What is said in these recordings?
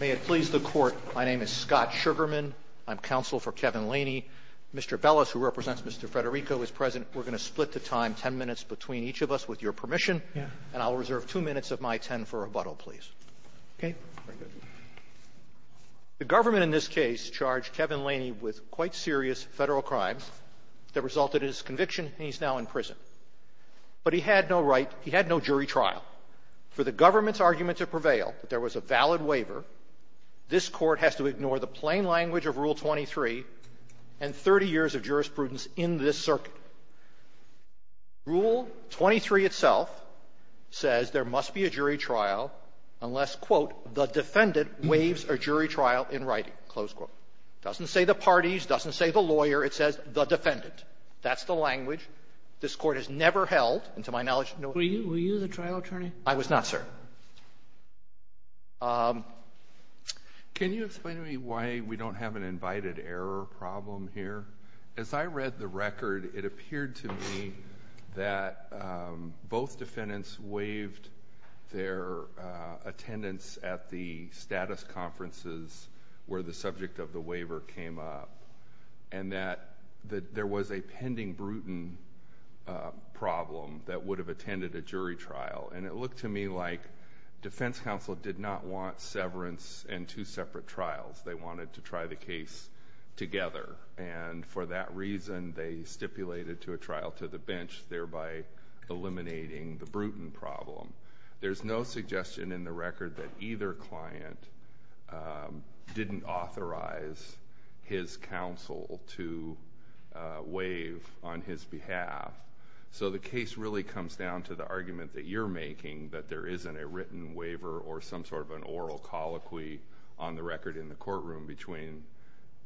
May it please the Court, my name is Scott Sugarman. I'm counsel for Kevin Laney. Mr. Bellis, who represents Mr. Federico, is present. We're going to split the time ten minutes between each of us, with your permission, and I'll reserve two minutes of my ten for rebuttal, please. Okay? Very good. The government in this case charged Kevin Laney with quite serious Federal crimes that resulted in his conviction, and he's now in prison. But he had no right he had no jury trial. For the government's argument to prevail, that there was a valid waiver, this Court has to ignore the plain language of Rule 23 and 30 years of jurisprudence in this circuit. Rule 23 itself says there must be a jury trial unless the defendant waives a jury trial in writing, close quote. It doesn't say the parties, it doesn't say the lawyer, it says the defendant. That's the language. This Court has never held, and to my knowledge, no other. Were you the trial attorney? I was not, sir. Can you explain to me why we don't have an invited error problem here? As I read the attendance at the status conferences where the subject of the waiver came up, and that there was a pending Bruton problem that would have attended a jury trial, and it looked to me like defense counsel did not want severance and two separate trials. They wanted to try the case together, and for that reason, they stipulated to a trial to the bench, thereby eliminating the Bruton problem. There's no suggestion in the record that either client didn't authorize his counsel to waive on his behalf. So the case really comes down to the argument that you're making, that there isn't a written waiver or some sort of an oral colloquy on the record in the courtroom between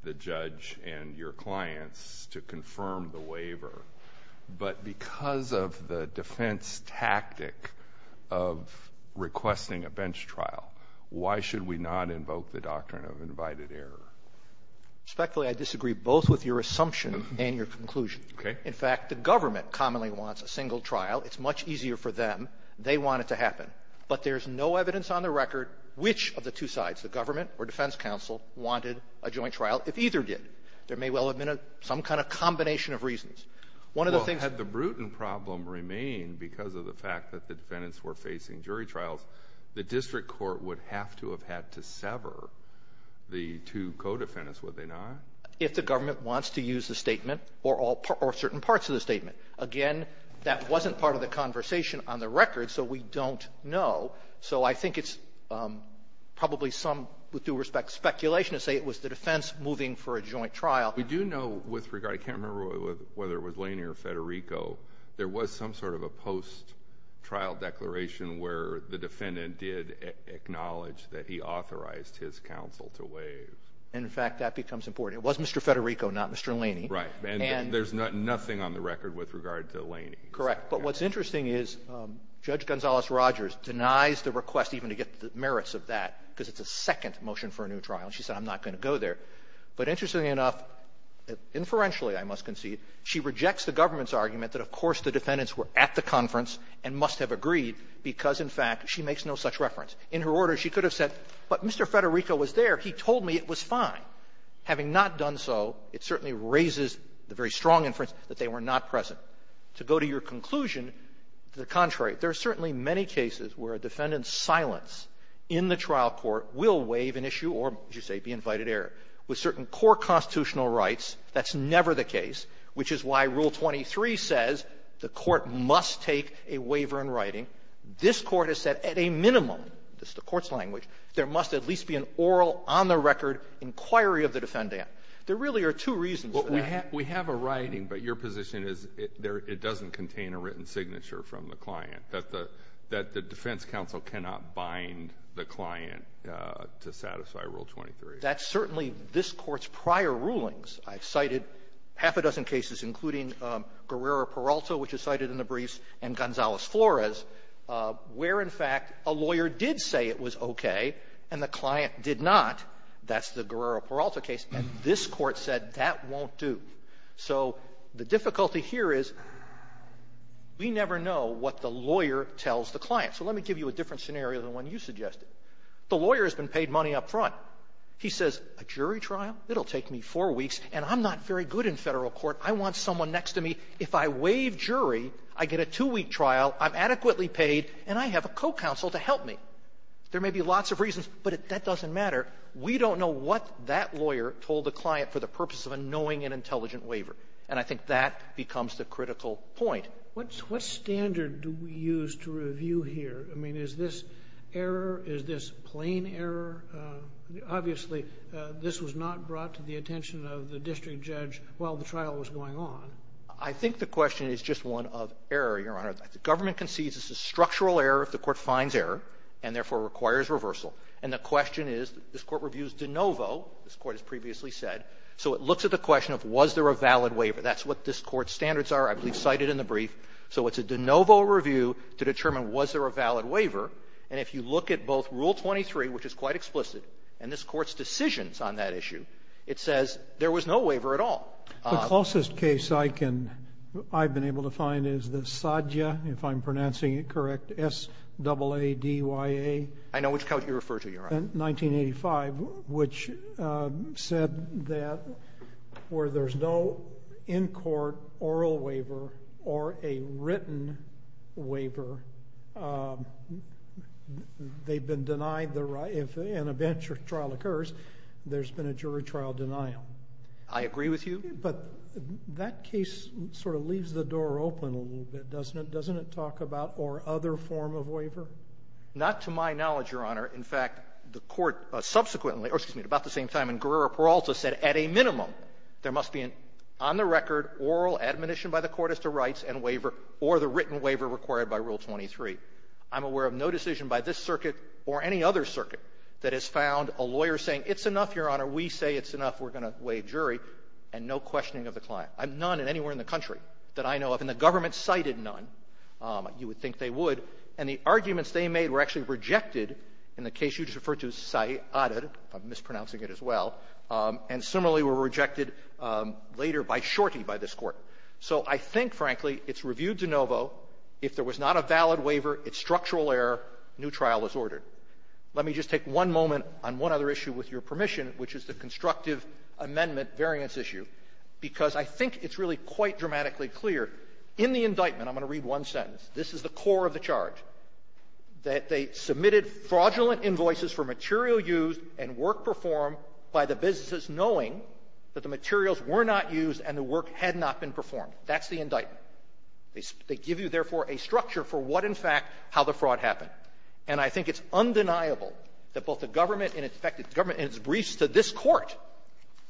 the judge and your clients to confirm the waiver. But because of the defense tactic of requesting a bench trial, why should we not invoke the doctrine of invited error? Respectfully, I disagree both with your assumption and your conclusion. Okay. In fact, the government commonly wants a single trial. It's much easier for them. They want it to happen. But there's no evidence on the record which of the two sides, the government or defense counsel, wanted a joint trial if either did. There may well have been some kind of combination of reasons. One of the things — Well, had the Bruton problem remained because of the fact that the defendants were facing jury trials, the district court would have to have had to sever the two co-defendants, would they not? If the government wants to use the statement or certain parts of the statement. Again, that wasn't part of the conversation on the record, so we don't know. So I think it's probably some, with due respect, speculation to say it was the defense moving for a joint trial. We do know with regard — I can't remember whether it was Laney or Federico — there was some sort of a post-trial declaration where the defendant did acknowledge that he authorized his counsel to waive. And, in fact, that becomes important. It was Mr. Federico, not Mr. Laney. Right. And there's nothing on the record with regard to Laney. Correct. But what's interesting is Judge Gonzales-Rogers denies the request even to get the merits of that because it's a second motion for a new trial. She said, I'm not going to go there. But interestingly enough, inferentially, I must concede, she rejects the government's argument that, of course, the defendants were at the conference and must have agreed because, in fact, she makes no such reference. In her order, she could have said, but Mr. Federico was there. He told me it was fine. Having not done so, it certainly raises the very strong inference that they were not present. To go to your conclusion, to the contrary, there are certainly many cases where a defendant's silence in the trial court will waive an issue or, as you say, be invited error. With certain core constitutional rights, that's never the case, which is why Rule 23 says the court must take a waiver in writing. This Court has said at a minimum – this is the Court's language – there must at least be an oral, on-the-record inquiry of the defendant. There really are two reasons for that. We have a writing, but your position is it doesn't contain a written signature from the client, that the defense counsel cannot bind the client to satisfy Rule 23. That's certainly this Court's prior rulings. I've cited half a dozen cases, including Guerrero-Peralta, which is cited in the briefs, and Gonzales-Flores, where, in fact, a lawyer did say it was okay and the client did not. That's the Guerrero-Peralta case. And this Court said that won't do. So the difficulty here is we never know what the lawyer tells the client. So let me give you a different scenario than the one you suggested. The lawyer has been paid money up front. He says, a jury trial? It'll take me four weeks, and I'm not very good in Federal court. I want someone next to me. If I waive jury, I get a two-week trial, I'm adequately paid, and I have a co-counsel to help me. There may be lots of reasons, but that doesn't matter. We don't know what that lawyer told the client for the purpose of a knowing and intelligent waiver. And I think that becomes the critical point. What standard do we use to review here? I mean, is this error? Is this plain error? Obviously, this was not brought to the attention of the district judge while the trial was going on. I think the question is just one of error, Your Honor. The government concedes this is structural error if the Court finds error and, therefore, requires reversal. And the question is, this Court reviews de novo, this Court has previously said, so it looks at the question of was there a valid waiver. That's what this So it's a de novo review to determine was there a valid waiver. And if you look at both Rule 23, which is quite explicit, and this Court's decisions on that issue, it says there was no waiver at all. The closest case I can – I've been able to find is the SADYA, if I'm pronouncing it correct, S-double-A-D-Y-A. 1985, which said that where there's no in-court oral waiver or a written waiver, they've been denied the right – if an eventual trial occurs, there's been a jury trial denial. I agree with you. But that case sort of leaves the door open a little bit, doesn't it? Doesn't it talk about or other form of waiver? Not to my knowledge, Your Honor. In fact, the Court subsequently – or, excuse me, at about the same time in Guerrero Peralta said, at a minimum, there must be an on-the-record oral admonition by the court as to rights and waiver or the written waiver required by Rule 23. I'm aware of no decision by this circuit or any other circuit that has found a lawyer saying, it's enough, Your Honor, we say it's enough, we're going to waive jury, and no questioning of the client. None in anywhere in the country that I know of, and the government cited none. You would think they would. And the arguments they made were actually rejected in the case you just referred to, Sayyadar, if I'm mispronouncing it as well, and similarly were rejected later by Shorty by this Court. So I think, frankly, it's reviewed de novo. If there was not a valid waiver, it's structural error, new trial is ordered. Let me just take one moment on one other issue, with your permission, which is the constructive amendment variance issue, because I think it's really quite dramatically clear. In the indictment, I'm going to read one sentence. This is the core of the charge, that they submitted fraudulent invoices for material used and work performed by the businesses knowing that the materials were not used and the work had not been performed. That's the indictment. They give you, therefore, a structure for what, in fact, how the fraud happened. And I think it's undeniable that both the government and its briefs to this Court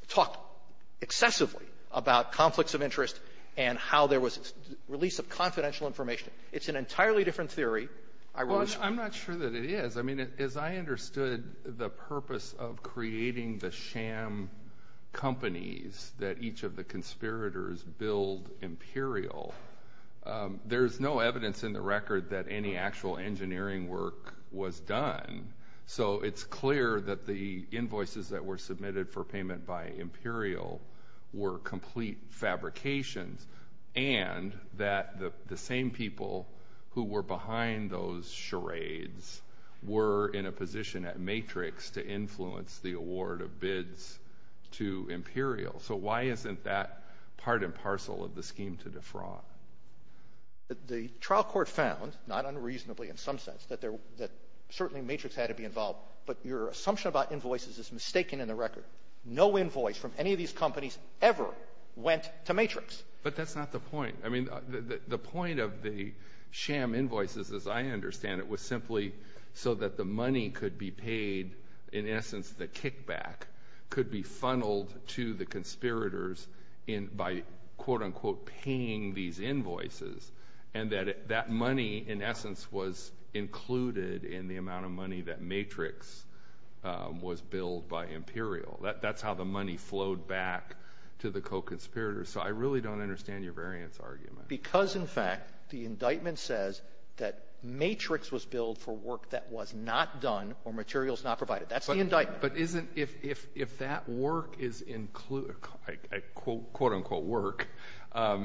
talk excessively about conflicts of interest and how there was release of confidential information. It's an entirely different theory. Well, I'm not sure that it is. I mean, as I understood the purpose of creating the sham companies that each of the conspirators billed Imperial, there's no evidence in the record that any actual engineering work was done. So it's clear that the invoices that were and that the same people who were behind those charades were in a position at Matrix to influence the award of bids to Imperial. So why isn't that part and parcel of the scheme to defraud? The trial court found, not unreasonably in some sense, that certainly Matrix had to be involved. But your assumption about invoices is mistaken in the record. No invoice from any of these companies ever went to Matrix. But that's not the point. I mean, the point of the sham invoices, as I understand it, was simply so that the money could be paid. In essence, the kickback could be funneled to the conspirators by, quote-unquote, paying these invoices. And that money, in essence, was included in the amount of money that Matrix was billed by Imperial. That's how the money flowed back to the co-conspirators. So I really don't understand your variance argument. Because in fact, the indictment says that Matrix was billed for work that was not done or materials not provided. That's the indictment. But isn't, if that work is, quote-unquote, work,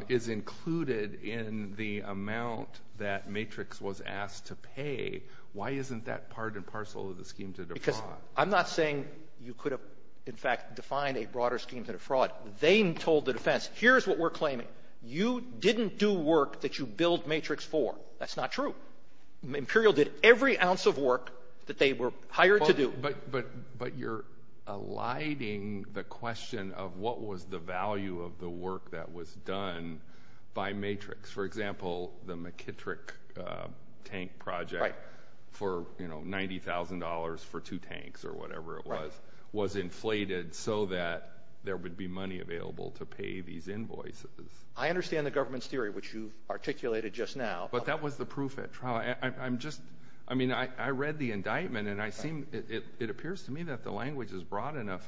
is included in the amount that Matrix was asked to pay, why isn't that part and parcel of the scheme to defraud? Because I'm not saying you could have, in fact, defined a broader scheme to defraud. They told the defense, here's what we're claiming. You didn't do work that you billed Matrix for. That's not true. Imperial did every ounce of work that they were hired to do. But you're eliding the question of what was the value of the work that was done by Matrix. For example, the McKittrick tank project for $90,000 for two tanks or whatever it was, was inflated so that there would be money available to pay these invoices. I understand the government's theory, which you've articulated just now. But that was the proof at trial. I read the indictment and it appears to me that the language is broad enough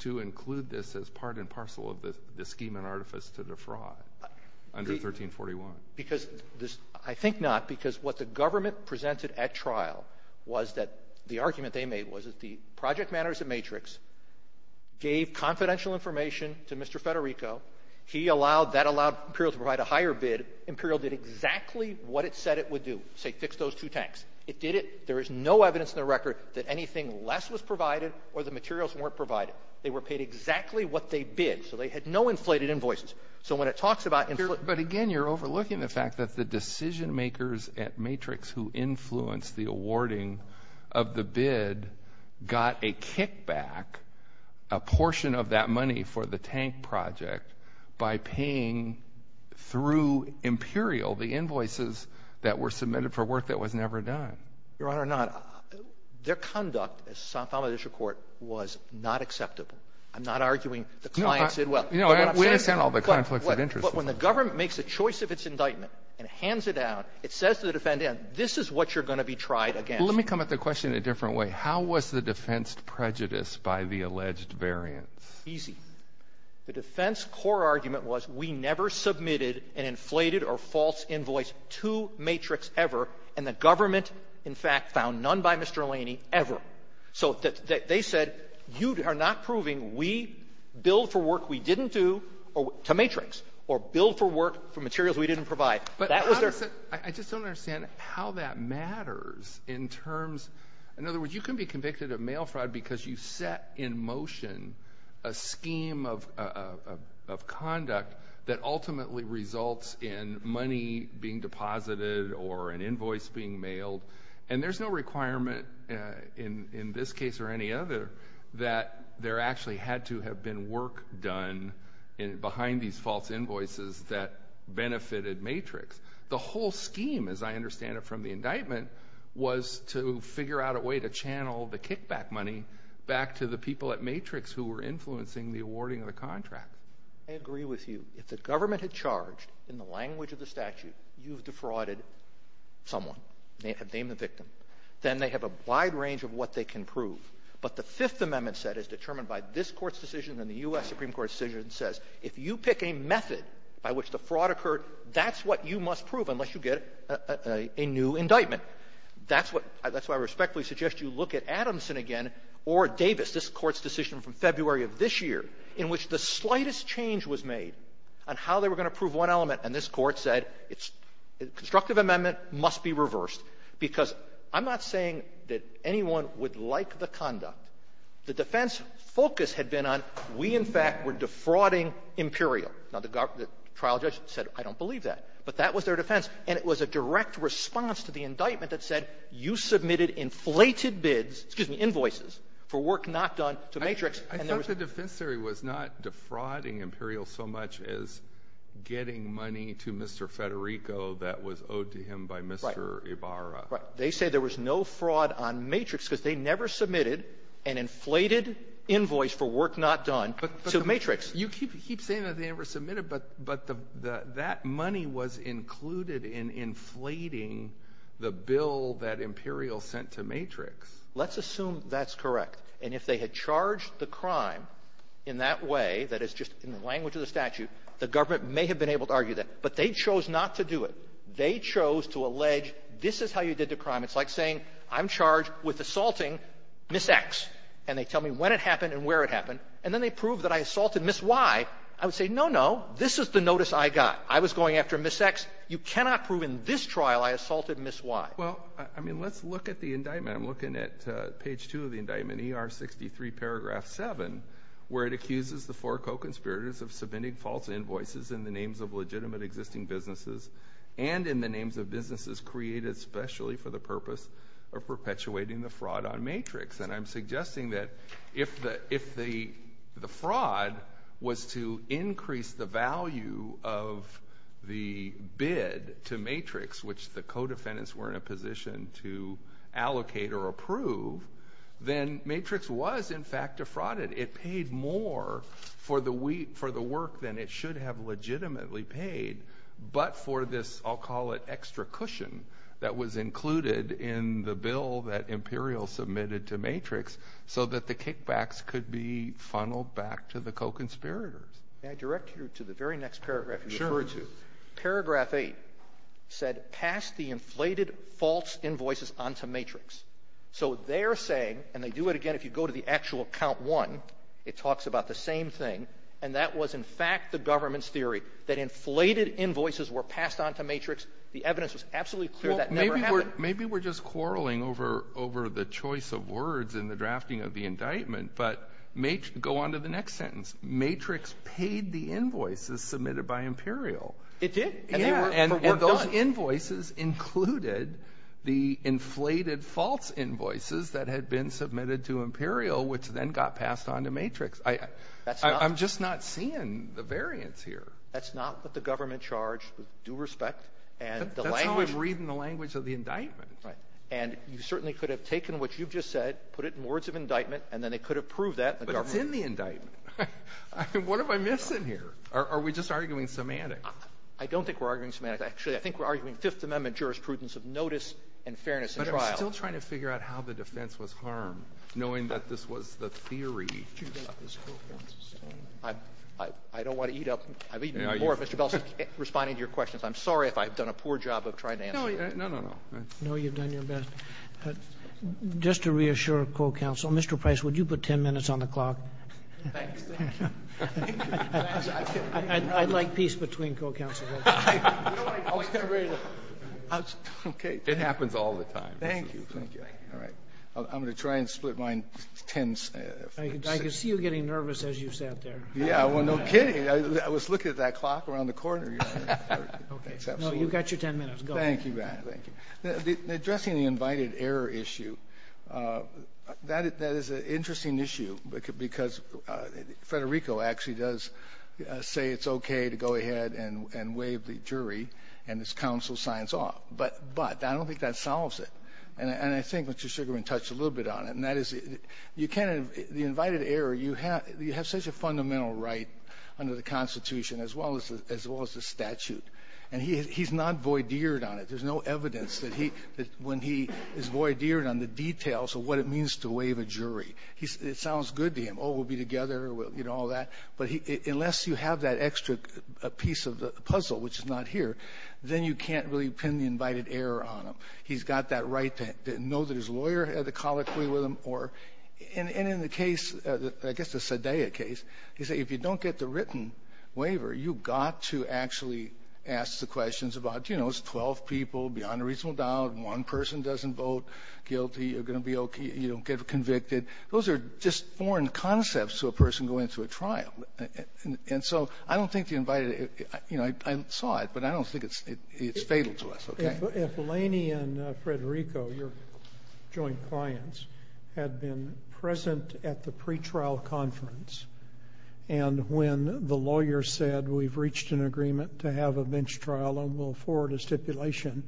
to include this as part and parcel of the scheme and artifice to defraud under 1341. I think not, because what the government presented at trial was that the argument they made was that the project manager at Matrix gave confidential information to Mr. Federico. He allowed, that allowed Imperial to provide a higher bid. Imperial did exactly what it said it would do, say fix those two tanks. It did it. There is no evidence in the record that anything less was provided or the materials weren't provided. They were paid exactly what they bid. So they had no inflated invoices. So when it talks about inflated... But again, you're overlooking the fact that the decision makers at Matrix who influenced the awarding of the bid got a kickback, a portion of that money for the tank project by paying through Imperial, the invoices that were submitted for work that was never done. Your Honor, not, their conduct, as found in this report, was not acceptable. I'm not arguing the client said, well, but what I'm saying is... No, we understand all the conflicts of interest. But when the government makes a choice of its indictment and hands it out, it says to the defendant, this is what you're going to be tried against. Well, let me come at the question in a different way. How was the defense prejudiced by the alleged variance? Easy. The defense core argument was we never submitted an inflated or false invoice to Matrix ever, and the government, in fact, found none by Mr. Laney ever. So they said, you are not proving we billed for work we didn't do to Matrix or billed for work for materials we didn't provide. But I just don't understand how that matters in terms... In other words, you can be convicted of mail fraud because you set in motion a scheme of conduct that ultimately results in money being deposited or an invoice being mailed. And there's no requirement in this case or any other that there actually had to have been work done behind these false invoices that benefited Matrix. The whole scheme, as I understand it from the indictment, was to figure out a way to channel the kickback money back to the people at Matrix who were influencing the awarding of the contract. I agree with you. If the government had charged in the language of the statute, you've defrauded someone. Name the victim. Then they have a wide range of what they can prove. But the Fifth Amendment set is determined by this Court's decision and the U.S. Supreme Court's decision says, if you pick a method by which the fraud occurred, that's what you must prove unless you get a new indictment. That's why I respectfully suggest you look at Adamson again or Davis, this Court's decision from February of this year, in which the slightest change was made on how they were going to prove one element. And this Court said, constructive amendment must be reversed, because I'm not saying that anyone would like the conduct. The defense focus had been on, we, in fact, were defrauding Imperial. Now, the trial judge said, I don't believe that. But that was their defense. And it was a direct response to the indictment that said, you submitted inflated bids, excuse me, invoices, for work not done to Matrix. I thought the defense theory was not defrauding Imperial so much as getting money to Mr. Federico that was owed to him by Mr. Ibarra. Right. They say there was no fraud on Matrix because they never submitted an inflated invoice for work not done to Matrix. You keep saying that they never submitted, but that money was included in inflating the bill that Imperial sent to Matrix. Let's assume that's correct. And if they had charged the crime in that way, that is just in the language of the statute, the government may have been able to argue that. But they chose not to do it. They chose to allege, this is how you did the crime. It's like saying, I'm charged with assaulting Ms. X. And they tell me when it happened and where it happened. And then they prove that I assaulted Ms. Y. I would say, no, no, this is the notice I got. I was going after Ms. X. You cannot prove in this trial I assaulted Ms. Y. Well, I mean, let's look at the indictment. I'm looking at page 2 of the indictment, ER 63, paragraph 7, where it accuses the four co-conspirators of submitting false invoices in the names of legitimate existing businesses and in the names of businesses created especially for the purpose of perpetuating the fraud on Matrix. And I'm suggesting that if the fraud was to increase the value of the bid to Matrix, which the co-defendants were in a position to allocate or approve, then Matrix was, in fact, defrauded. It paid more for the work than it should have legitimately paid. But for this, I'll call it, extra cushion that was included in the bill that Imperial submitted to Matrix so that the kickbacks could be funneled back to the co-conspirators. May I direct you to the very next paragraph you referred to? Sure. This is paragraph 8, said, pass the inflated false invoices on to Matrix. So they're saying, and they do it again if you go to the actual count 1, it talks about the same thing, and that was, in fact, the government's theory, that inflated invoices were passed on to Matrix. The evidence was absolutely clear that never happened. Maybe we're just quarreling over the choice of words in the drafting of the indictment, but go on to the next sentence. Matrix paid the invoices submitted by Imperial. It did. And they were for work done. And those invoices included the inflated false invoices that had been submitted to Imperial, which then got passed on to Matrix. I'm just not seeing the variance here. That's not what the government charged with due respect. That's how I'm reading the language of the indictment. Right. And you certainly could have taken what you've just said, put it in words of indictment, and then they could have proved that. But it's in the indictment. I mean, what am I missing here? Are we just arguing semantics? I don't think we're arguing semantics. Actually, I think we're arguing Fifth Amendment jurisprudence of notice and fairness in trial. But I'm still trying to figure out how the defense was harmed, knowing that this was the theory. I don't want to eat up my time, Mr. Belson, responding to your questions. I'm sorry if I've done a poor job of trying to answer them. No, no, no. No, you've done your best. Thanks. Thank you. I'd like peace between co-counselors. I was getting ready to. OK. It happens all the time. Thank you. Thank you. All right. I'm going to try and split mine in 10. I can see you getting nervous as you sat there. Yeah, well, no kidding. I was looking at that clock around the corner. OK. No, you've got your 10 minutes. Go. Thank you, Ben. Thank you. Addressing the invited error issue, that is an interesting issue. Because Federico actually does say it's OK to go ahead and waive the jury, and this counsel signs off. But I don't think that solves it. And I think Mr. Sugarman touched a little bit on it. And that is, the invited error, you have such a fundamental right under the Constitution, as well as the statute. And he's not voideered on it. There's no evidence that when he is voideered on the details of what it means to waive a jury. It sounds good to him. Oh, we'll be together, you know, all that. But unless you have that extra piece of the puzzle, which is not here, then you can't really pin the invited error on him. He's got that right to know that his lawyer had a colloquy with him. And in the case, I guess the Sedea case, he said, if you don't get the written waiver, you've got to actually ask the questions about, you know, it's 12 people beyond a reasonable doubt. One person doesn't vote guilty. You're going to be OK. You don't get convicted. Those are just foreign concepts to a person going through a trial. And so I don't think the invited, you know, I saw it. But I don't think it's fatal to us, OK? If Laney and Federico, your joint clients, had been present at the pretrial conference, and when the lawyer said, we've reached an agreement to have a bench trial, and we'll forward a stipulation,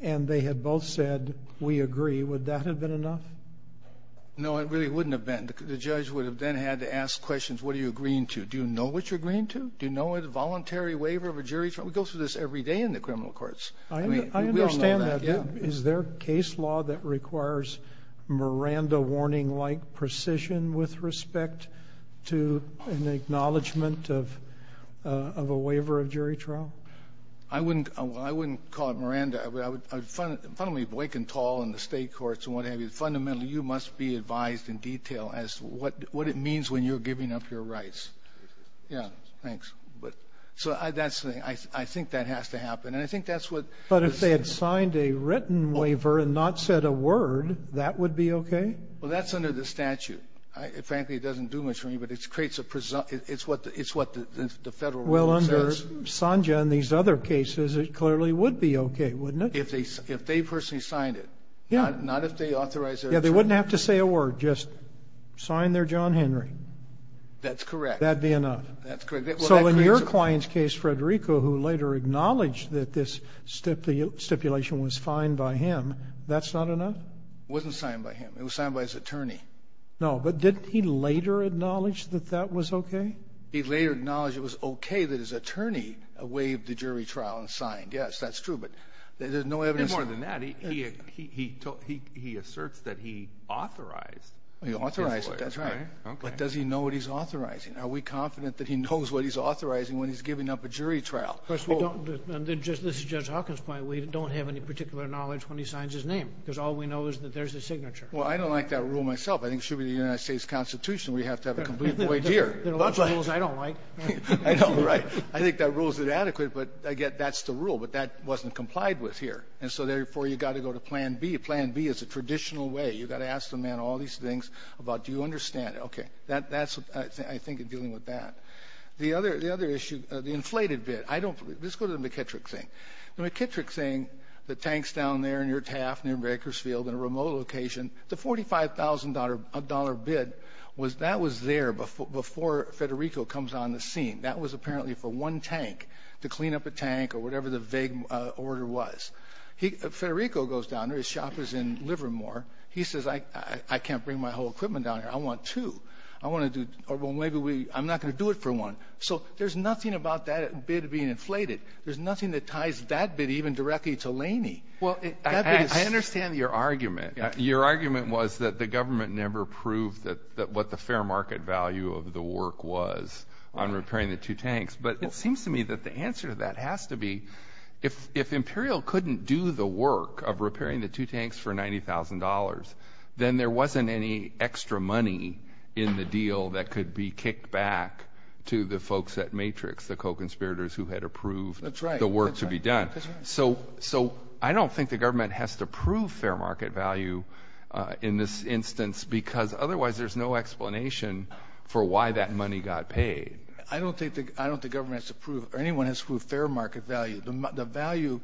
and they had both said, we agree, would that have been enough? No, it really wouldn't have been. The judge would have then had to ask questions, what are you agreeing to? Do you know what you're agreeing to? Do you know a voluntary waiver of a jury trial? We go through this every day in the criminal courts. I understand that. Is there case law that requires Miranda-warning-like precision with respect to an acknowledgment of a waiver of jury trial? I wouldn't call it Miranda. Fundamentally, Boyk and Tall and the state courts and what have you, fundamentally, you must be advised in detail as to what it means when you're giving up your rights. Yeah, thanks. So I think that has to happen. And I think that's what this is. But if they had signed a written waiver and not said a word, that would be OK? Well, that's under the statute. Frankly, it doesn't do much for me, but it's what the federal rule says. Well, under Sanja and these other cases, it clearly would be OK, wouldn't it? If they personally signed it, not if they authorized their attorney. Yeah, they wouldn't have to say a word, just sign their John Henry. That's correct. That'd be enough. That's correct. So in your client's case, Federico, who later acknowledged that this stipulation was fine by him, that's not enough? Wasn't signed by him. It was signed by his attorney. No, but didn't he later acknowledge that that was OK? He later acknowledged it was OK that his attorney waived the jury trial and signed. Yes, that's true. But there's no evidence. And more than that, he asserts that he authorized. He authorized it, that's right. But does he know what he's authorizing? Are we confident that he knows what he's authorizing when he's giving up a jury trial? First of all, this is Judge Hawkins' point. We don't have any particular knowledge when he signs his name, because all we know is that there's a signature. Well, I don't like that rule myself. I think it should be the United States Constitution. We have to have a complete void here. There are rules I don't like. I think that rule is inadequate, but, again, that's the rule. But that wasn't complied with here. And so, therefore, you've got to go to Plan B. Plan B is a traditional way. You've got to ask the man all these things about, do you understand? Okay. That's what I think in dealing with that. The other issue, the inflated bid. I don't believe. Let's go to the McKittrick thing. The McKittrick thing, the tanks down there near Taft, near Bakersfield, in a remote location, the $45,000 bid, that was there before Federico comes on the scene. That was apparently for one tank, to clean up a tank or whatever the vague order was. Federico goes down there. His shop is in Livermore. He says, I can't bring my whole equipment down here. I want two. I want to do, or maybe I'm not going to do it for one. So there's nothing about that bid being inflated. There's nothing that ties that bid even directly to Laney. Well, I understand your argument. Your argument was that the government never proved what the fair market value of the work was on repairing the two tanks. But it seems to me that the answer to that has to be, if Imperial couldn't do the work of repairing the two tanks for $90,000, then there wasn't any extra money in the deal that could be kicked back to the folks at Matrix, the co-conspirators who had approved the work to be done. So I don't think the government has to prove fair market value in this instance, because otherwise there's no explanation for why that money got paid. I don't think the government has to prove, or anyone has to prove fair market value. The value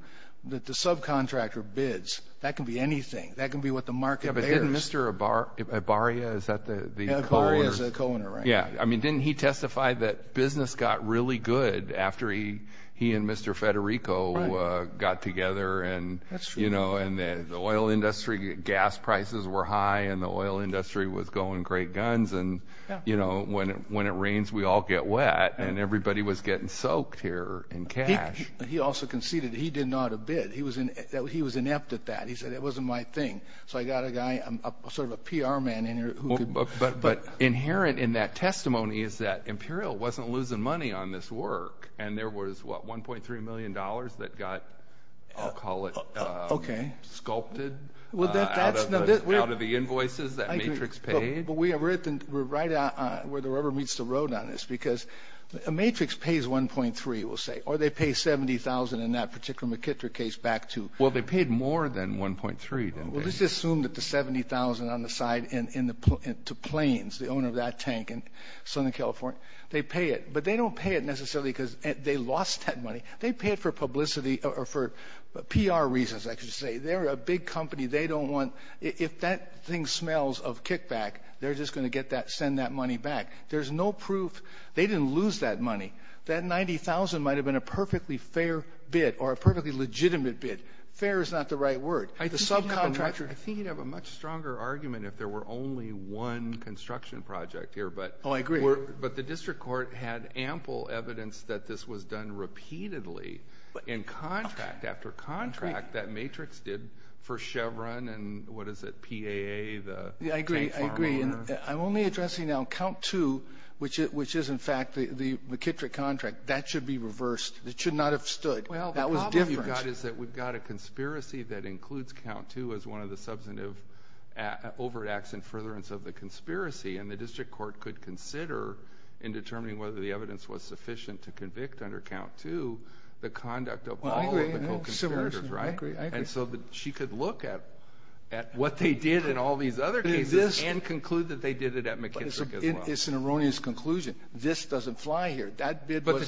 that the subcontractor bids, that can be anything. That can be what the market bears. But didn't Mr. Ibarria, is that the co-owner? Yeah, I mean, didn't he testify that business got really good after he and Mr. Federico got together? And the oil industry, gas prices were high, and the oil industry was going great guns. And when it rains, we all get wet, and everybody was getting soaked here in cash. He also conceded he didn't know how to bid. He was inept at that. He said, it wasn't my thing. So I got a guy, sort of a PR man in here who could- But inherent in that testimony is that Imperial wasn't losing money on this work. And there was, what, $1.3 million that got, I'll call it, sculpted out of the invoices that Matrix paid? But we're right where the rubber meets the road on this, because Matrix pays $1.3, we'll say. Or they pay $70,000 in that particular McKittrick case back to- Well, they paid more than $1.3, didn't they? Let's just assume that the $70,000 on the side to Plains, the owner of that tank in Southern California, they pay it. But they don't pay it necessarily because they lost that money. They pay it for publicity or for PR reasons, I should say. They're a big company. They don't want — if that thing smells of kickback, they're just going to get that — send that money back. There's no proof. They didn't lose that money. That $90,000 might have been a perfectly fair bid or a perfectly legitimate bid. Fair is not the right word. The subcontractor — I think you'd have a much stronger argument if there were only one construction project here. But — Oh, I agree. But the district court had ample evidence that this was done repeatedly in contract after contract that Matrix did for Chevron and, what is it, PAA, the tank farm owner. Yeah, I agree. I agree. And I'm only addressing now count two, which is, in fact, the McKittrick contract. That should be reversed. It should not have stood. That was different. What we've got is that we've got a conspiracy that includes count two as one of the substantive overt acts in furtherance of the conspiracy. And the district court could consider, in determining whether the evidence was sufficient to convict under count two, the conduct of all of the co-conspirators. I agree. And so she could look at what they did in all these other cases and conclude that they did it at McKittrick as well. It's an erroneous conclusion. This doesn't fly here. That bid wasn't —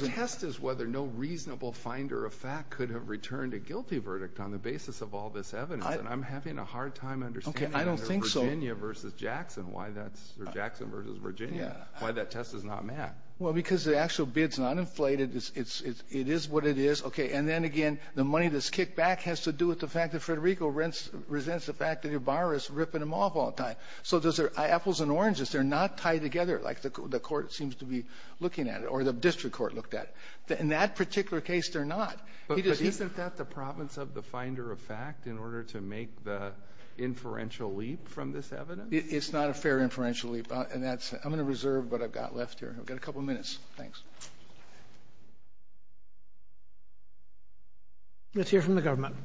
I'm having a hard time understanding the Virginia versus Jackson, why that's — or Jackson versus Virginia, why that test is not met. Well, because the actual bid's not inflated. It is what it is. Okay. And then again, the money that's kicked back has to do with the fact that Federico resents the fact that your borrower is ripping him off all the time. So does their — apples and oranges, they're not tied together like the court seems to be looking at it or the district court looked at. In that particular case, they're not. But isn't that the province of the finder of fact in order to make the inferential leap from this evidence? It's not a fair inferential leap. And that's — I'm going to reserve what I've got left here. I've got a couple of minutes. Thanks. Let's hear from the government.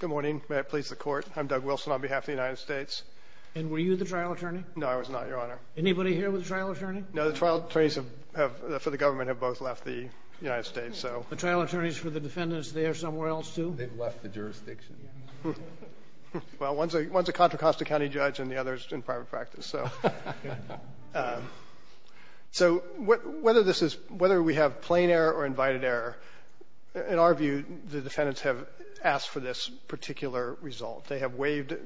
Good morning. May it please the Court. I'm Doug Wilson on behalf of the United States. And were you the trial attorney? No, I was not, Your Honor. Anybody here was a trial attorney? No, the trial attorneys have — for the government have both left the United States, so. The trial attorneys for the defendants, they are somewhere else, too? They've left the jurisdiction. Well, one's a Contra Costa County judge and the other's in private practice, so. So whether this is — whether we have plain error or invited error, in our view, the defendants have asked for this particular result. They have waived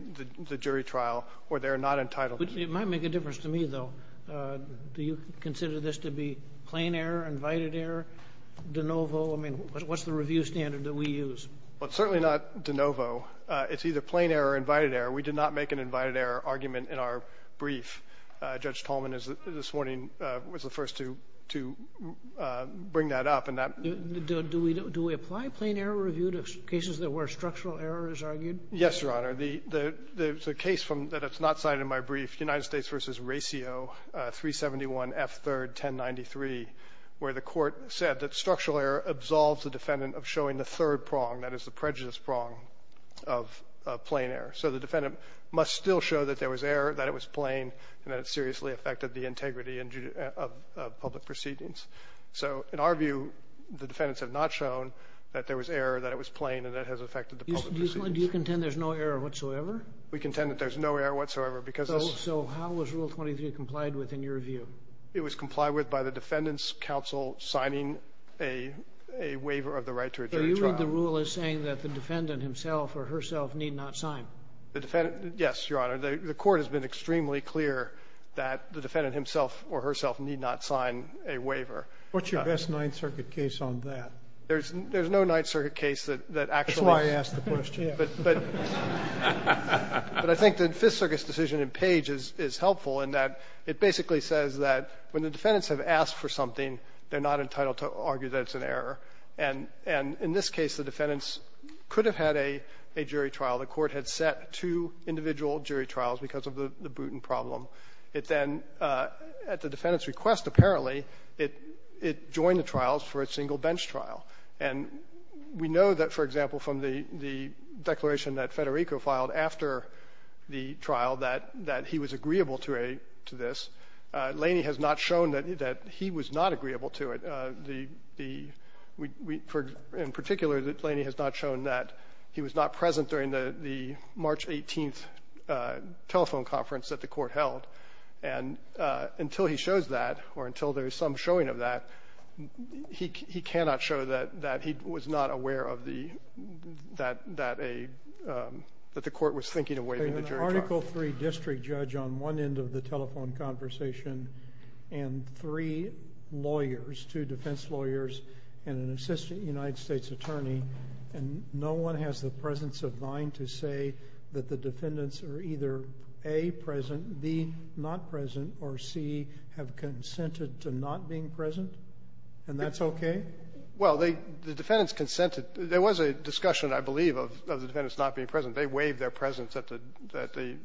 the jury trial or they're not entitled to it. It might make a difference to me, though. Do you consider this to be plain error, invited error, de novo? I mean, what's the review standard that we use? Well, it's certainly not de novo. It's either plain error or invited error. We did not make an invited error argument in our brief. Judge Tolman is — this morning was the first to bring that up. And that — Do we apply plain error review to cases where structural error is argued? Yes, Your Honor. The case from — that is not cited in my brief, United States v. Racio, 371 F. 3rd, 1093, where the Court said that structural error absolves the defendant of showing the third prong, that is, the prejudice prong of plain error. So the defendant must still show that there was error, that it was plain, and that it seriously affected the integrity of public proceedings. So in our view, the defendants have not shown that there was error, that it was plain, and that it has affected the public proceedings. Do you contend there's no error whatsoever? We contend that there's no error whatsoever, because this — So how was Rule 23 complied with in your view? It was complied with by the defendant's counsel signing a waiver of the right to a jury trial. So you read the rule as saying that the defendant himself or herself need not sign? The defendant — yes, Your Honor. The Court has been extremely clear that the defendant himself or herself need not sign a waiver. What's your best Ninth Circuit case on that? There's no Ninth Circuit case that actually — But I think that Fifth Circuit's decision in Page is helpful in that it basically says that when the defendants have asked for something, they're not entitled to argue that it's an error. And in this case, the defendants could have had a jury trial. The Court had set two individual jury trials because of the Bruton problem. It then, at the defendant's request, apparently, it joined the trials for a single bench trial. And we know that, for example, from the declaration that Federico filed after the trial, that he was agreeable to this. Laney has not shown that he was not agreeable to it, the — in particular, that Laney has not shown that he was not present during the March 18th telephone conference that the Court held. And until he shows that, or until there is some showing of that, he cannot show that he was not aware of the — that a — that the Court was thinking of waiving the jury trial. An Article III district judge on one end of the telephone conversation and three lawyers, two defense lawyers, and an assistant United States attorney, and no one has the presence of mind to say that the defendants are either, A, present, B, not present, or C, have consented to not being present? And that's OK? Well, they — the defendants consented. There was a discussion, I believe, of the defendants not being present. They waived their presence at the — at the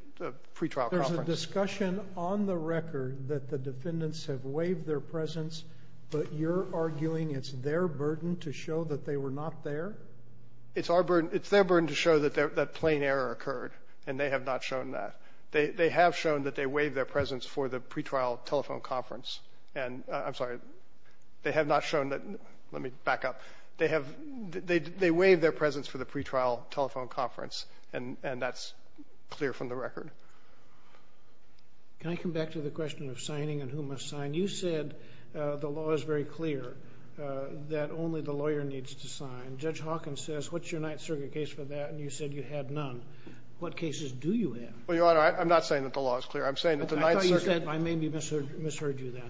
pretrial conference. There's a discussion on the record that the defendants have waived their presence, but you're arguing it's their burden to show that they were not there? It's our burden — it's their burden to show that that plain error occurred, and they have not shown that. They have shown that they waived their presence for the pretrial telephone conference. And — I'm sorry. They have not shown that — let me back up. They have — they — they waived their presence for the pretrial telephone conference, and — and that's clear from the record. Can I come back to the question of signing and who must sign? You said the law is very clear, that only the lawyer needs to sign. Judge Hawkins says, what's your Ninth Circuit case for that? And you said you had none. What cases do you have? Well, Your Honor, I'm not saying that the law is clear. I'm saying that the Ninth Circuit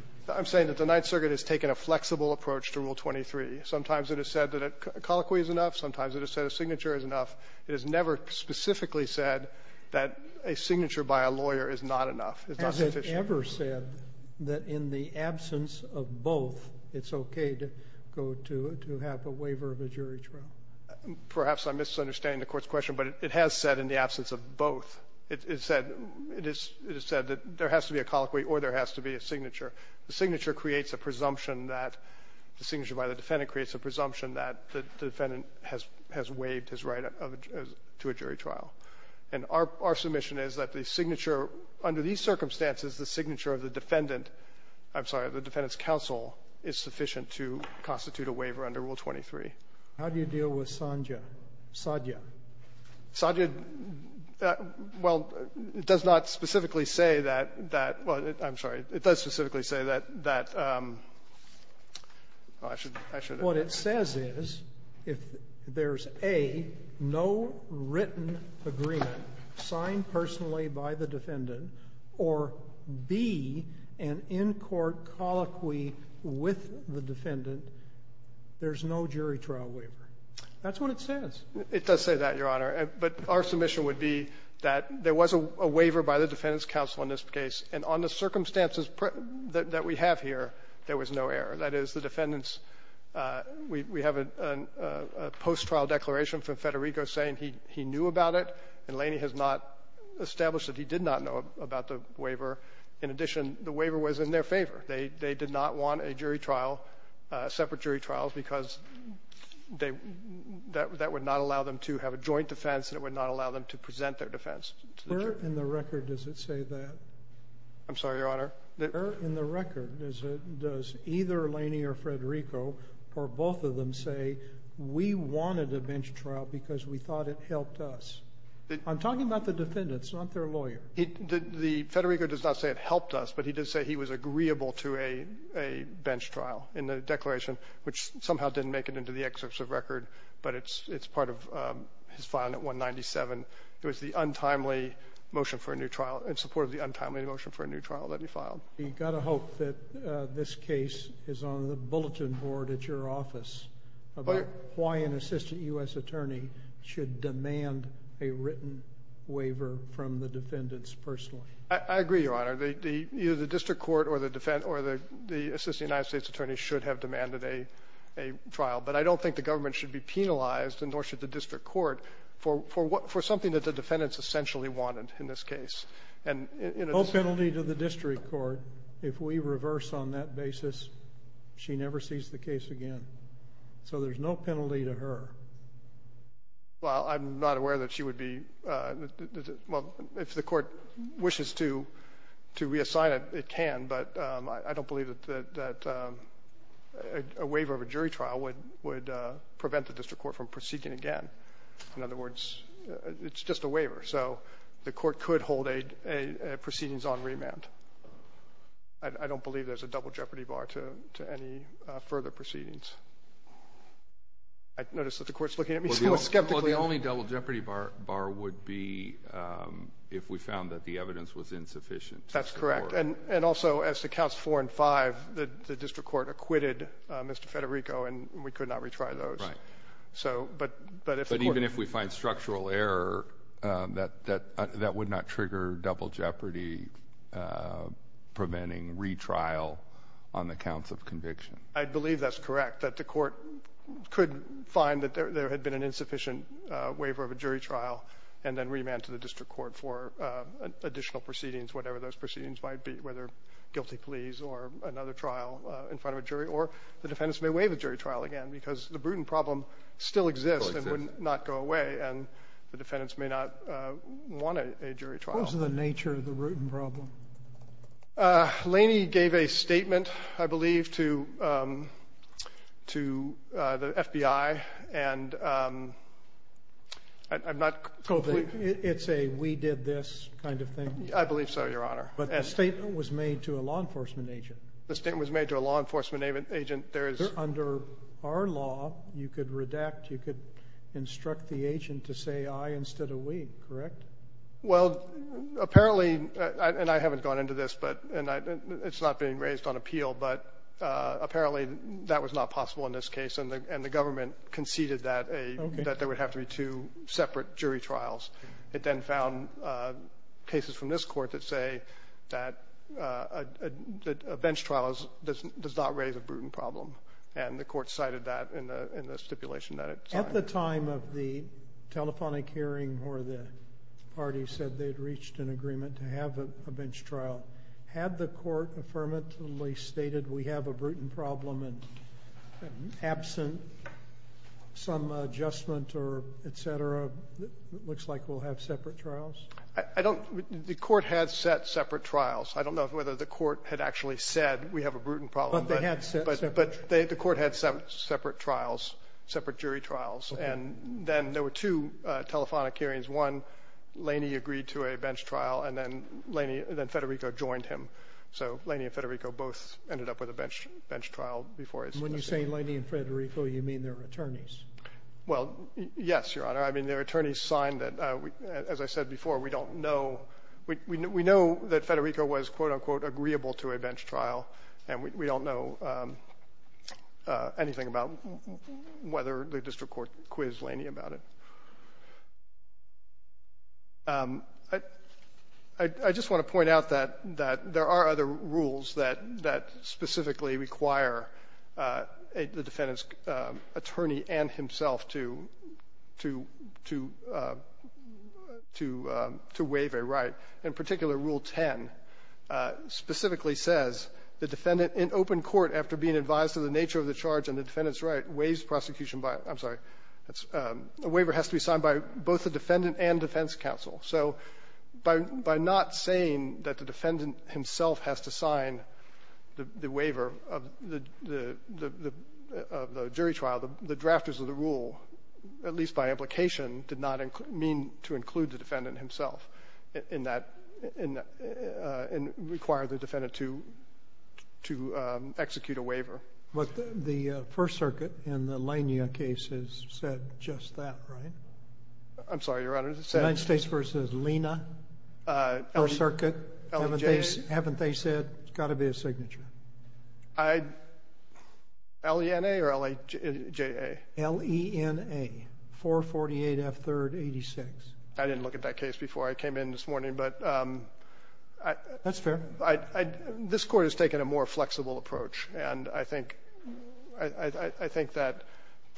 — I'm saying that the Ninth Circuit has taken a flexible approach to Rule 23. Sometimes it has said that a colloquy is enough. Sometimes it has said a signature is enough. It has never specifically said that a signature by a lawyer is not enough, is not sufficient. Has it ever said that in the absence of both, it's okay to go to — to have a waiver of a jury trial? Perhaps I'm misunderstanding the Court's question, but it has said in the absence of both. It — it said — it has said that there has to be a colloquy or there has to be a signature creates a presumption that — a signature by the defendant creates a presumption that the defendant has — has waived his right of — to a jury trial. And our — our submission is that the signature under these circumstances, the signature of the defendant — I'm sorry, of the defendant's counsel is sufficient to constitute a waiver under Rule 23. How do you deal with Sondja? Sondja. Sondja — well, it does not specifically say that — that — well, I'm sorry. It does specifically say that — that — oh, I should — I should have — What it says is if there's, A, no written agreement signed personally by the defendant, or, B, an in-court colloquy with the defendant, there's no jury trial waiver. That's what it says. It does say that, Your Honor. But our submission would be that there was a waiver by the defendant's counsel in this case, and on the circumstances that — that we have here, there was no error. That is, the defendant's — we — we have a — a post-trial declaration from Federico saying he — he knew about it, and Laney has not established that he did not know about the waiver. In addition, the waiver was in their favor. They — they did not want a jury trial, separate jury trials, because they — that would not allow them to have a joint defense, and it would not allow them to present their defense to the jury. In the record, does it say that? I'm sorry, Your Honor? In the record, does it — does either Laney or Federico, or both of them, say, we wanted a bench trial because we thought it helped us? I'm talking about the defendants, not their lawyer. It — the — Federico does not say it helped us, but he does say he was agreeable to a — a bench trial in the declaration, which somehow didn't make it into the excerpts of record, but it's — it's part of his filing at 197. It was the untimely motion for a new trial — in support of the untimely motion for a new trial that he filed. You've got to hope that this case is on the bulletin board at your office about why an assistant U.S. attorney should demand a written waiver from the defendants personally. I — I agree, Your Honor. The — the — either the district court or the defense — or the — the assistant United States attorney should have demanded a — a trial, but I don't think the government should be penalized, and nor should the district court, for — for what — for something that the defendants essentially wanted in this case. And in a — No penalty to the district court if we reverse on that basis. She never sees the case again. So there's no penalty to her. Well, I'm not aware that she would be — well, if the court wishes to — to reassign it, it can, but I don't believe that — that a waiver of a jury trial would — would be seeking again. In other words, it's just a waiver. So the court could hold a — a proceedings on remand. I don't believe there's a double jeopardy bar to — to any further proceedings. I notice that the court's looking at me so skeptically. Well, the only double jeopardy bar would be if we found that the evidence was insufficient. That's correct. And — and also, as to counts four and five, the district court acquitted Mr. Federico, and we could not retry those. Right. So — but — But even if we find structural error, that — that — that would not trigger double jeopardy, preventing retrial on the counts of conviction. I believe that's correct, that the court could find that there had been an insufficient waiver of a jury trial and then remand to the district court for additional proceedings, whatever those proceedings might be, whether guilty pleas or another trial in front of a jury. Or the defendants may waive a jury trial again, because the Bruton problem still exists and would not go away, and the defendants may not want a jury trial. What was the nature of the Bruton problem? Laney gave a statement, I believe, to — to the FBI, and I'm not completely — It's a we did this kind of thing? I believe so, Your Honor. But the statement was made to a law enforcement agent. The statement was made to a law enforcement agent. There is — Under our law, you could redact. You could instruct the agent to say, I, instead of we, correct? Well, apparently — and I haven't gone into this, but — and it's not being raised on appeal, but apparently that was not possible in this case, and the — and the government conceded that a — that there would have to be two separate jury trials. It then found cases from this court that say that a bench trial does not raise a Bruton problem, and the court cited that in the stipulation that it signed. At the time of the telephonic hearing where the party said they had reached an agreement to have a bench trial, had the court affirmatively stated we have a Bruton problem and absent some adjustment or et cetera, it looks like we'll have separate trials? I don't — the court had set separate trials. I don't know whether the court had actually said we have a Bruton problem. But they had set separate — But they — the court had set separate trials, separate jury trials. And then there were two telephonic hearings. One, Laney agreed to a bench trial, and then Laney — then Federico joined him. So Laney and Federico both ended up with a bench trial before a — And when you say Laney and Federico, you mean their attorneys? Well, yes, Your Honor. I mean, their attorneys signed that. As I said before, we don't know — we know that Federico was, quote-unquote, agreeable to a bench trial, and we don't know anything about whether the district court quizzed Laney about it. I just want to point out that there are other rules that specifically require the defendant's attorney and himself to waive a right. In particular, Rule 10 specifically says the defendant in open court, after being advised of the nature of the charge and the defendant's right, waives prosecution by — I'm sorry. A waiver has to be signed by both the defendant and defense counsel. So by not saying that the defendant himself has to sign the waiver of the jury trial, the drafters of the rule, at least by implication, did not mean to include the defendant himself in that — and require the defendant to execute a waiver. But the First Circuit in the Laney case has said just that, right? I'm sorry, Your Honor. The United States v. Lina, First Circuit, haven't they said it's got to be a signature? I — L-E-N-A or L-A-J-A? L-E-N-A, 448 F. 3rd. 86. I didn't look at that case before I came in this morning, but — That's fair. I — this Court has taken a more flexible approach. And I think — I think that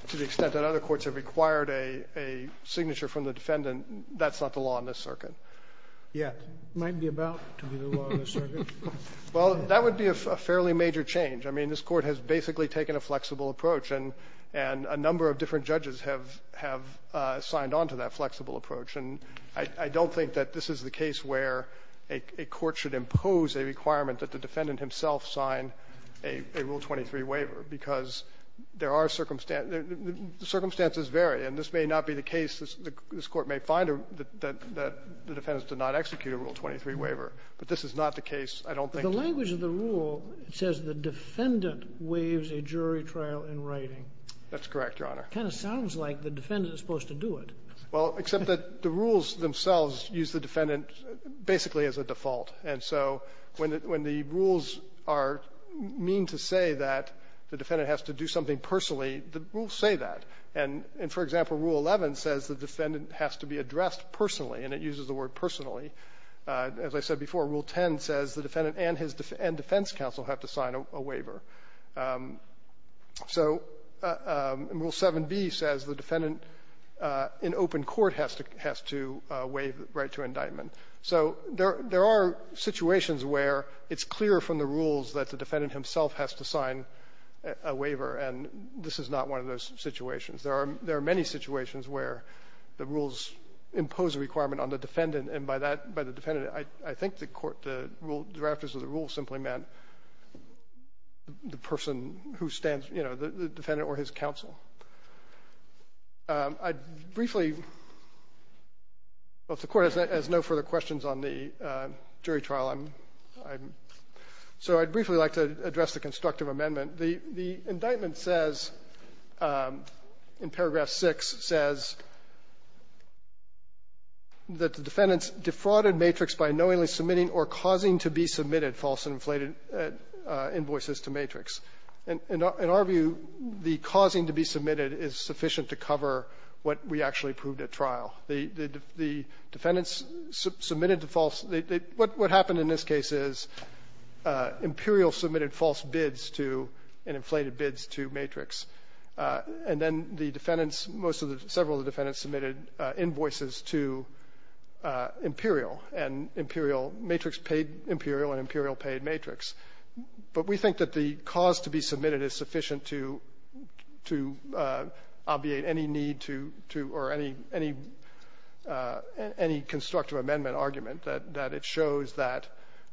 to the extent that other courts have required a signature from the defendant, that's not the law in this circuit. Yet. Might be about to be the law in this circuit. Well, that would be a fairly major change. I mean, this Court has basically taken a flexible approach, and a number of different judges have signed on to that flexible approach. And I don't think that this is the case where a court should impose a requirement that the defendant himself sign a Rule 23 waiver, because there are circumstances — the circumstances vary. And this may not be the case. This Court may find that the defendant did not execute a Rule 23 waiver. But this is not the case, I don't think. But the language of the rule says the defendant waives a jury trial in writing. That's correct, Your Honor. Kind of sounds like the defendant is supposed to do it. Well, except that the rules themselves use the defendant basically as a default. And so when the — when the rules are mean to say that the defendant has to do something personally, the rules say that. And for example, Rule 11 says the defendant has to be addressed personally, and it uses the word personally. As I said before, Rule 10 says the defendant and his — and defense counsel have to sign a waiver. So Rule 7b says the defendant in open court has to — has to waive the right to indictment. So there are — there are situations where it's clear from the rules that the defendant himself has to sign a waiver, and this is not one of those situations. There are — there are many situations where the rules impose a requirement on the defendant, and by that — by the defendant, I think the court — the rule — the person who stands, you know, the defendant or his counsel. I'd briefly — well, if the Court has no further questions on the jury trial, I'm — I'm — so I'd briefly like to address the constructive amendment. The — the indictment says, in paragraph 6, says that the defendant's defrauded matrix by knowingly submitting or causing to be submitted false and inflated invoices to matrix. In our view, the causing to be submitted is sufficient to cover what we actually proved at trial. The — the defendants submitted the false — what happened in this case is Imperial submitted false bids to — and inflated bids to matrix, and then the defendants, most of the — several of the defendants submitted invoices to Imperial, and Imperial — matrix paid Imperial, and Imperial paid matrix. But we think that the cause to be submitted is sufficient to — to obviate any need to — to — or any — any — any constructive amendment argument, that it shows that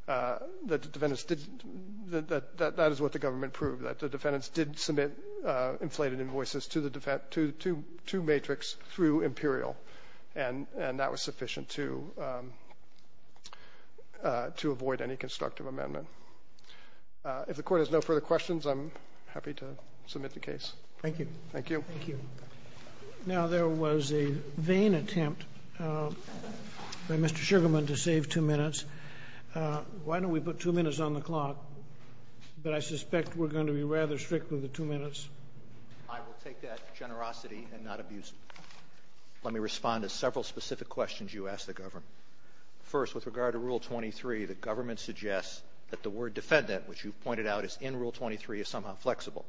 the defendants did — that that is what the government proved, that the defendants did submit inflated invoices to the — to — to matrix through Imperial, and that was sufficient to — to avoid any constructive amendment. If the Court has no further questions, I'm happy to submit the case. Thank you. Thank you. Thank you. Now, there was a vain attempt by Mr. Sugarman to save two minutes. Why don't we put two minutes on the clock? But I suspect we're going to be rather strict with the two minutes. I will take that generosity and not abuse it. Let me respond to several specific questions you asked the government. First, with regard to Rule 23, the government suggests that the word defendant, which you've pointed out is in Rule 23, is somehow flexible.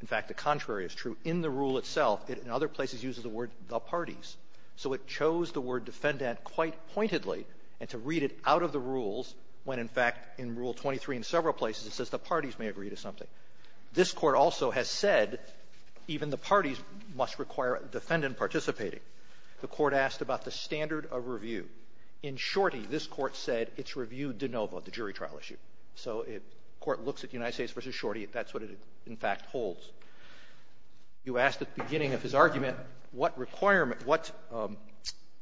In fact, the contrary is true. In the rule itself, it in other places uses the word the parties. So it chose the word defendant quite pointedly, and to read it out of the rules when, in fact, in Rule 23 in several places, it says the parties may agree to something. This Court also has said even the parties must require a defendant participating. The Court asked about the standard of review. In Shorty, this Court said it's review de novo, the jury trial issue. So if the Court looks at United States v. Shorty, that's what it, in fact, holds. You asked at the beginning of his argument what requirement, what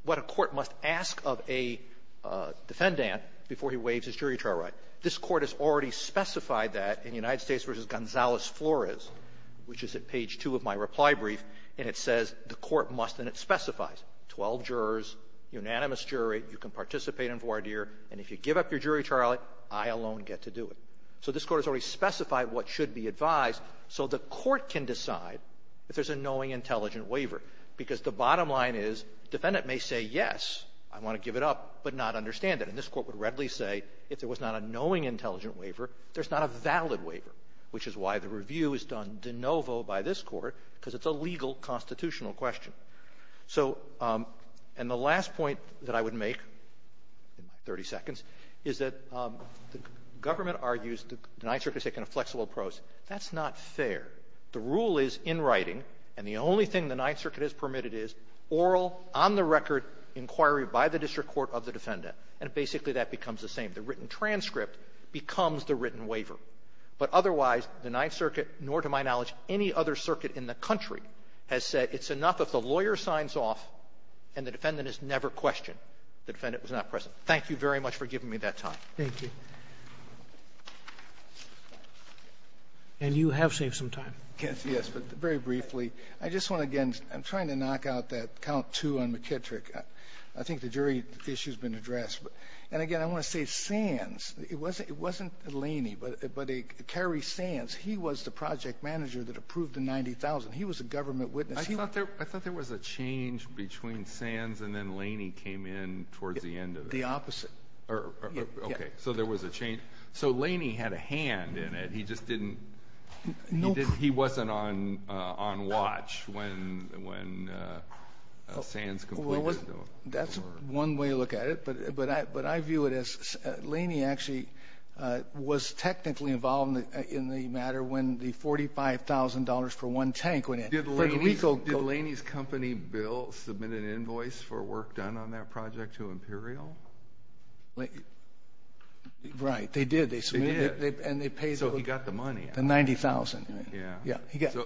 a court must ask of a defendant before he waives his jury trial right. This Court has already specified that in United States v. Gonzales-Flores, which is at page 2 of my reply brief, and it says the court must, and it specifies, 12 jurors, unanimous jury, you can participate in voir dire, and if you give up your jury trial, I alone get to do it. So this Court has already specified what should be advised so the Court can decide if there's a knowing, intelligent waiver. Because the bottom line is defendant may say, yes, I want to give it up, but not understand it. And this Court would readily say if there was not a knowing, intelligent waiver, there's not a valid waiver, which is why the review is done de novo by this Court, because it's a legal, constitutional question. So the last point that I would make, in my 30 seconds, is that the government argues the Ninth Circuit has taken a flexible approach. That's not fair. The rule is in writing, and the only thing the Ninth Circuit has permitted is oral, on-the-record inquiry by the district court of the defendant. And basically, that becomes the same. The written transcript becomes the written waiver. But otherwise, the Ninth Circuit, nor to my knowledge any other circuit in the country, has said it's enough if the lawyer signs off and the defendant is never questioned. The defendant was not present. Thank you very much for giving me that time. Robertson, thank you. And you have saved some time. Yes, yes, but very briefly, I just want to, again, I'm trying to knock out that count, too, on McKittrick. I think the jury issue's been addressed. And again, I want to say Sands, it wasn't Laney, but Kerry Sands, he was the project manager that approved the 90,000. He was a government witness. I thought there was a change between Sands and then Laney came in towards the end of it. The opposite. OK, so there was a change. So Laney had a hand in it. He just didn't, he wasn't on watch when Sands completed it. That's one way to look at it, but I view it as, Laney actually was technically involved in the matter when the $45,000 for one tank went in. Did Laney's company bill submit an invoice for work done on that project to Imperial? Right, they did. They submitted it. So he got the money out of it. The 90,000. Yeah.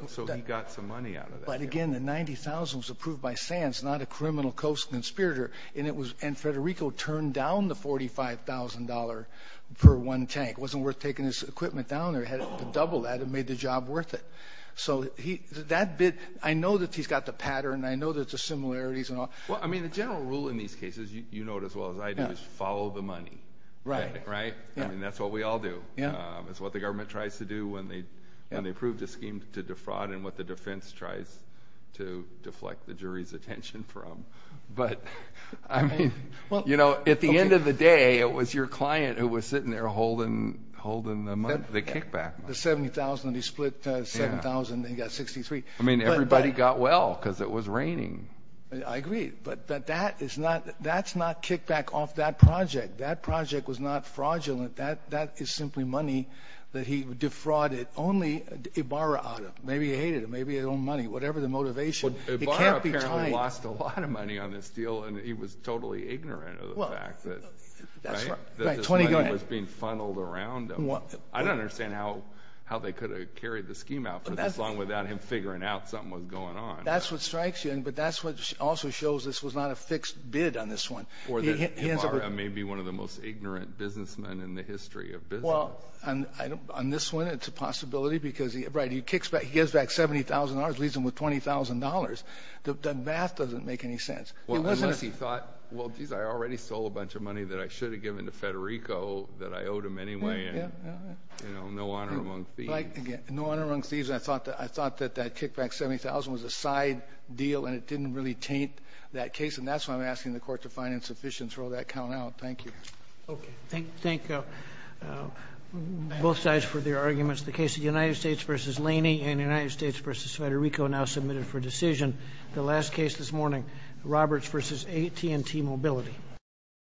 So he got some money out of that. But again, the 90,000 was approved by Sands, not a criminal co-conspirator, and it was, and Federico turned down the $45,000 for one tank. It wasn't worth taking his equipment down there. He had to double that. It made the job worth it. So that bit, I know that he's got the pattern. I know that there's similarities and all. Well, I mean, the general rule in these cases, you know it as well as I do, is follow the money. Right. Right? I mean, that's what we all do. It's what the government tries to do when they approve the scheme to defraud, and what the defense tries to deflect the jury's attention from. But I mean, you know, at the end of the day, it was your client who was sitting there holding the kickback. The 70,000, and he split 7,000, and he got 63. I mean, everybody got well, because it was raining. I agree. But that is not, that's not kickback off that project. That project was not fraudulent. That is simply money that he defrauded. Only Ibarra owed him. Maybe he hated him. Maybe he owed him money. Whatever the motivation, it can't be tied. Well, Ibarra apparently lost a lot of money on this deal, and he was totally ignorant of the fact that this money was being funneled around him. I don't understand how they could have carried the scheme out for this long without him figuring out something was going on. That's what strikes you. But that's what also shows this was not a fixed bid on this one. Or that Ibarra may be one of the most ignorant businessmen in the history of business. Well, on this one, it's a possibility, because he kicks back, he gives back 70,000 dollars, leaves him with 20,000 dollars. The math doesn't make any sense. Well, unless he thought, well, geez, I already sold a bunch of money that I should have given to Federico that I owed him anyway, and, you know, no honor among thieves. No honor among thieves. I thought that that kickback 70,000 was a side deal, and it didn't really taint that sufficience. Roll that count out. Thank you. Okay. Thank both sides for their arguments. The case of United States v. Laney and United States v. Federico now submitted for decision. The last case this morning, Roberts v. AT&T Mobility.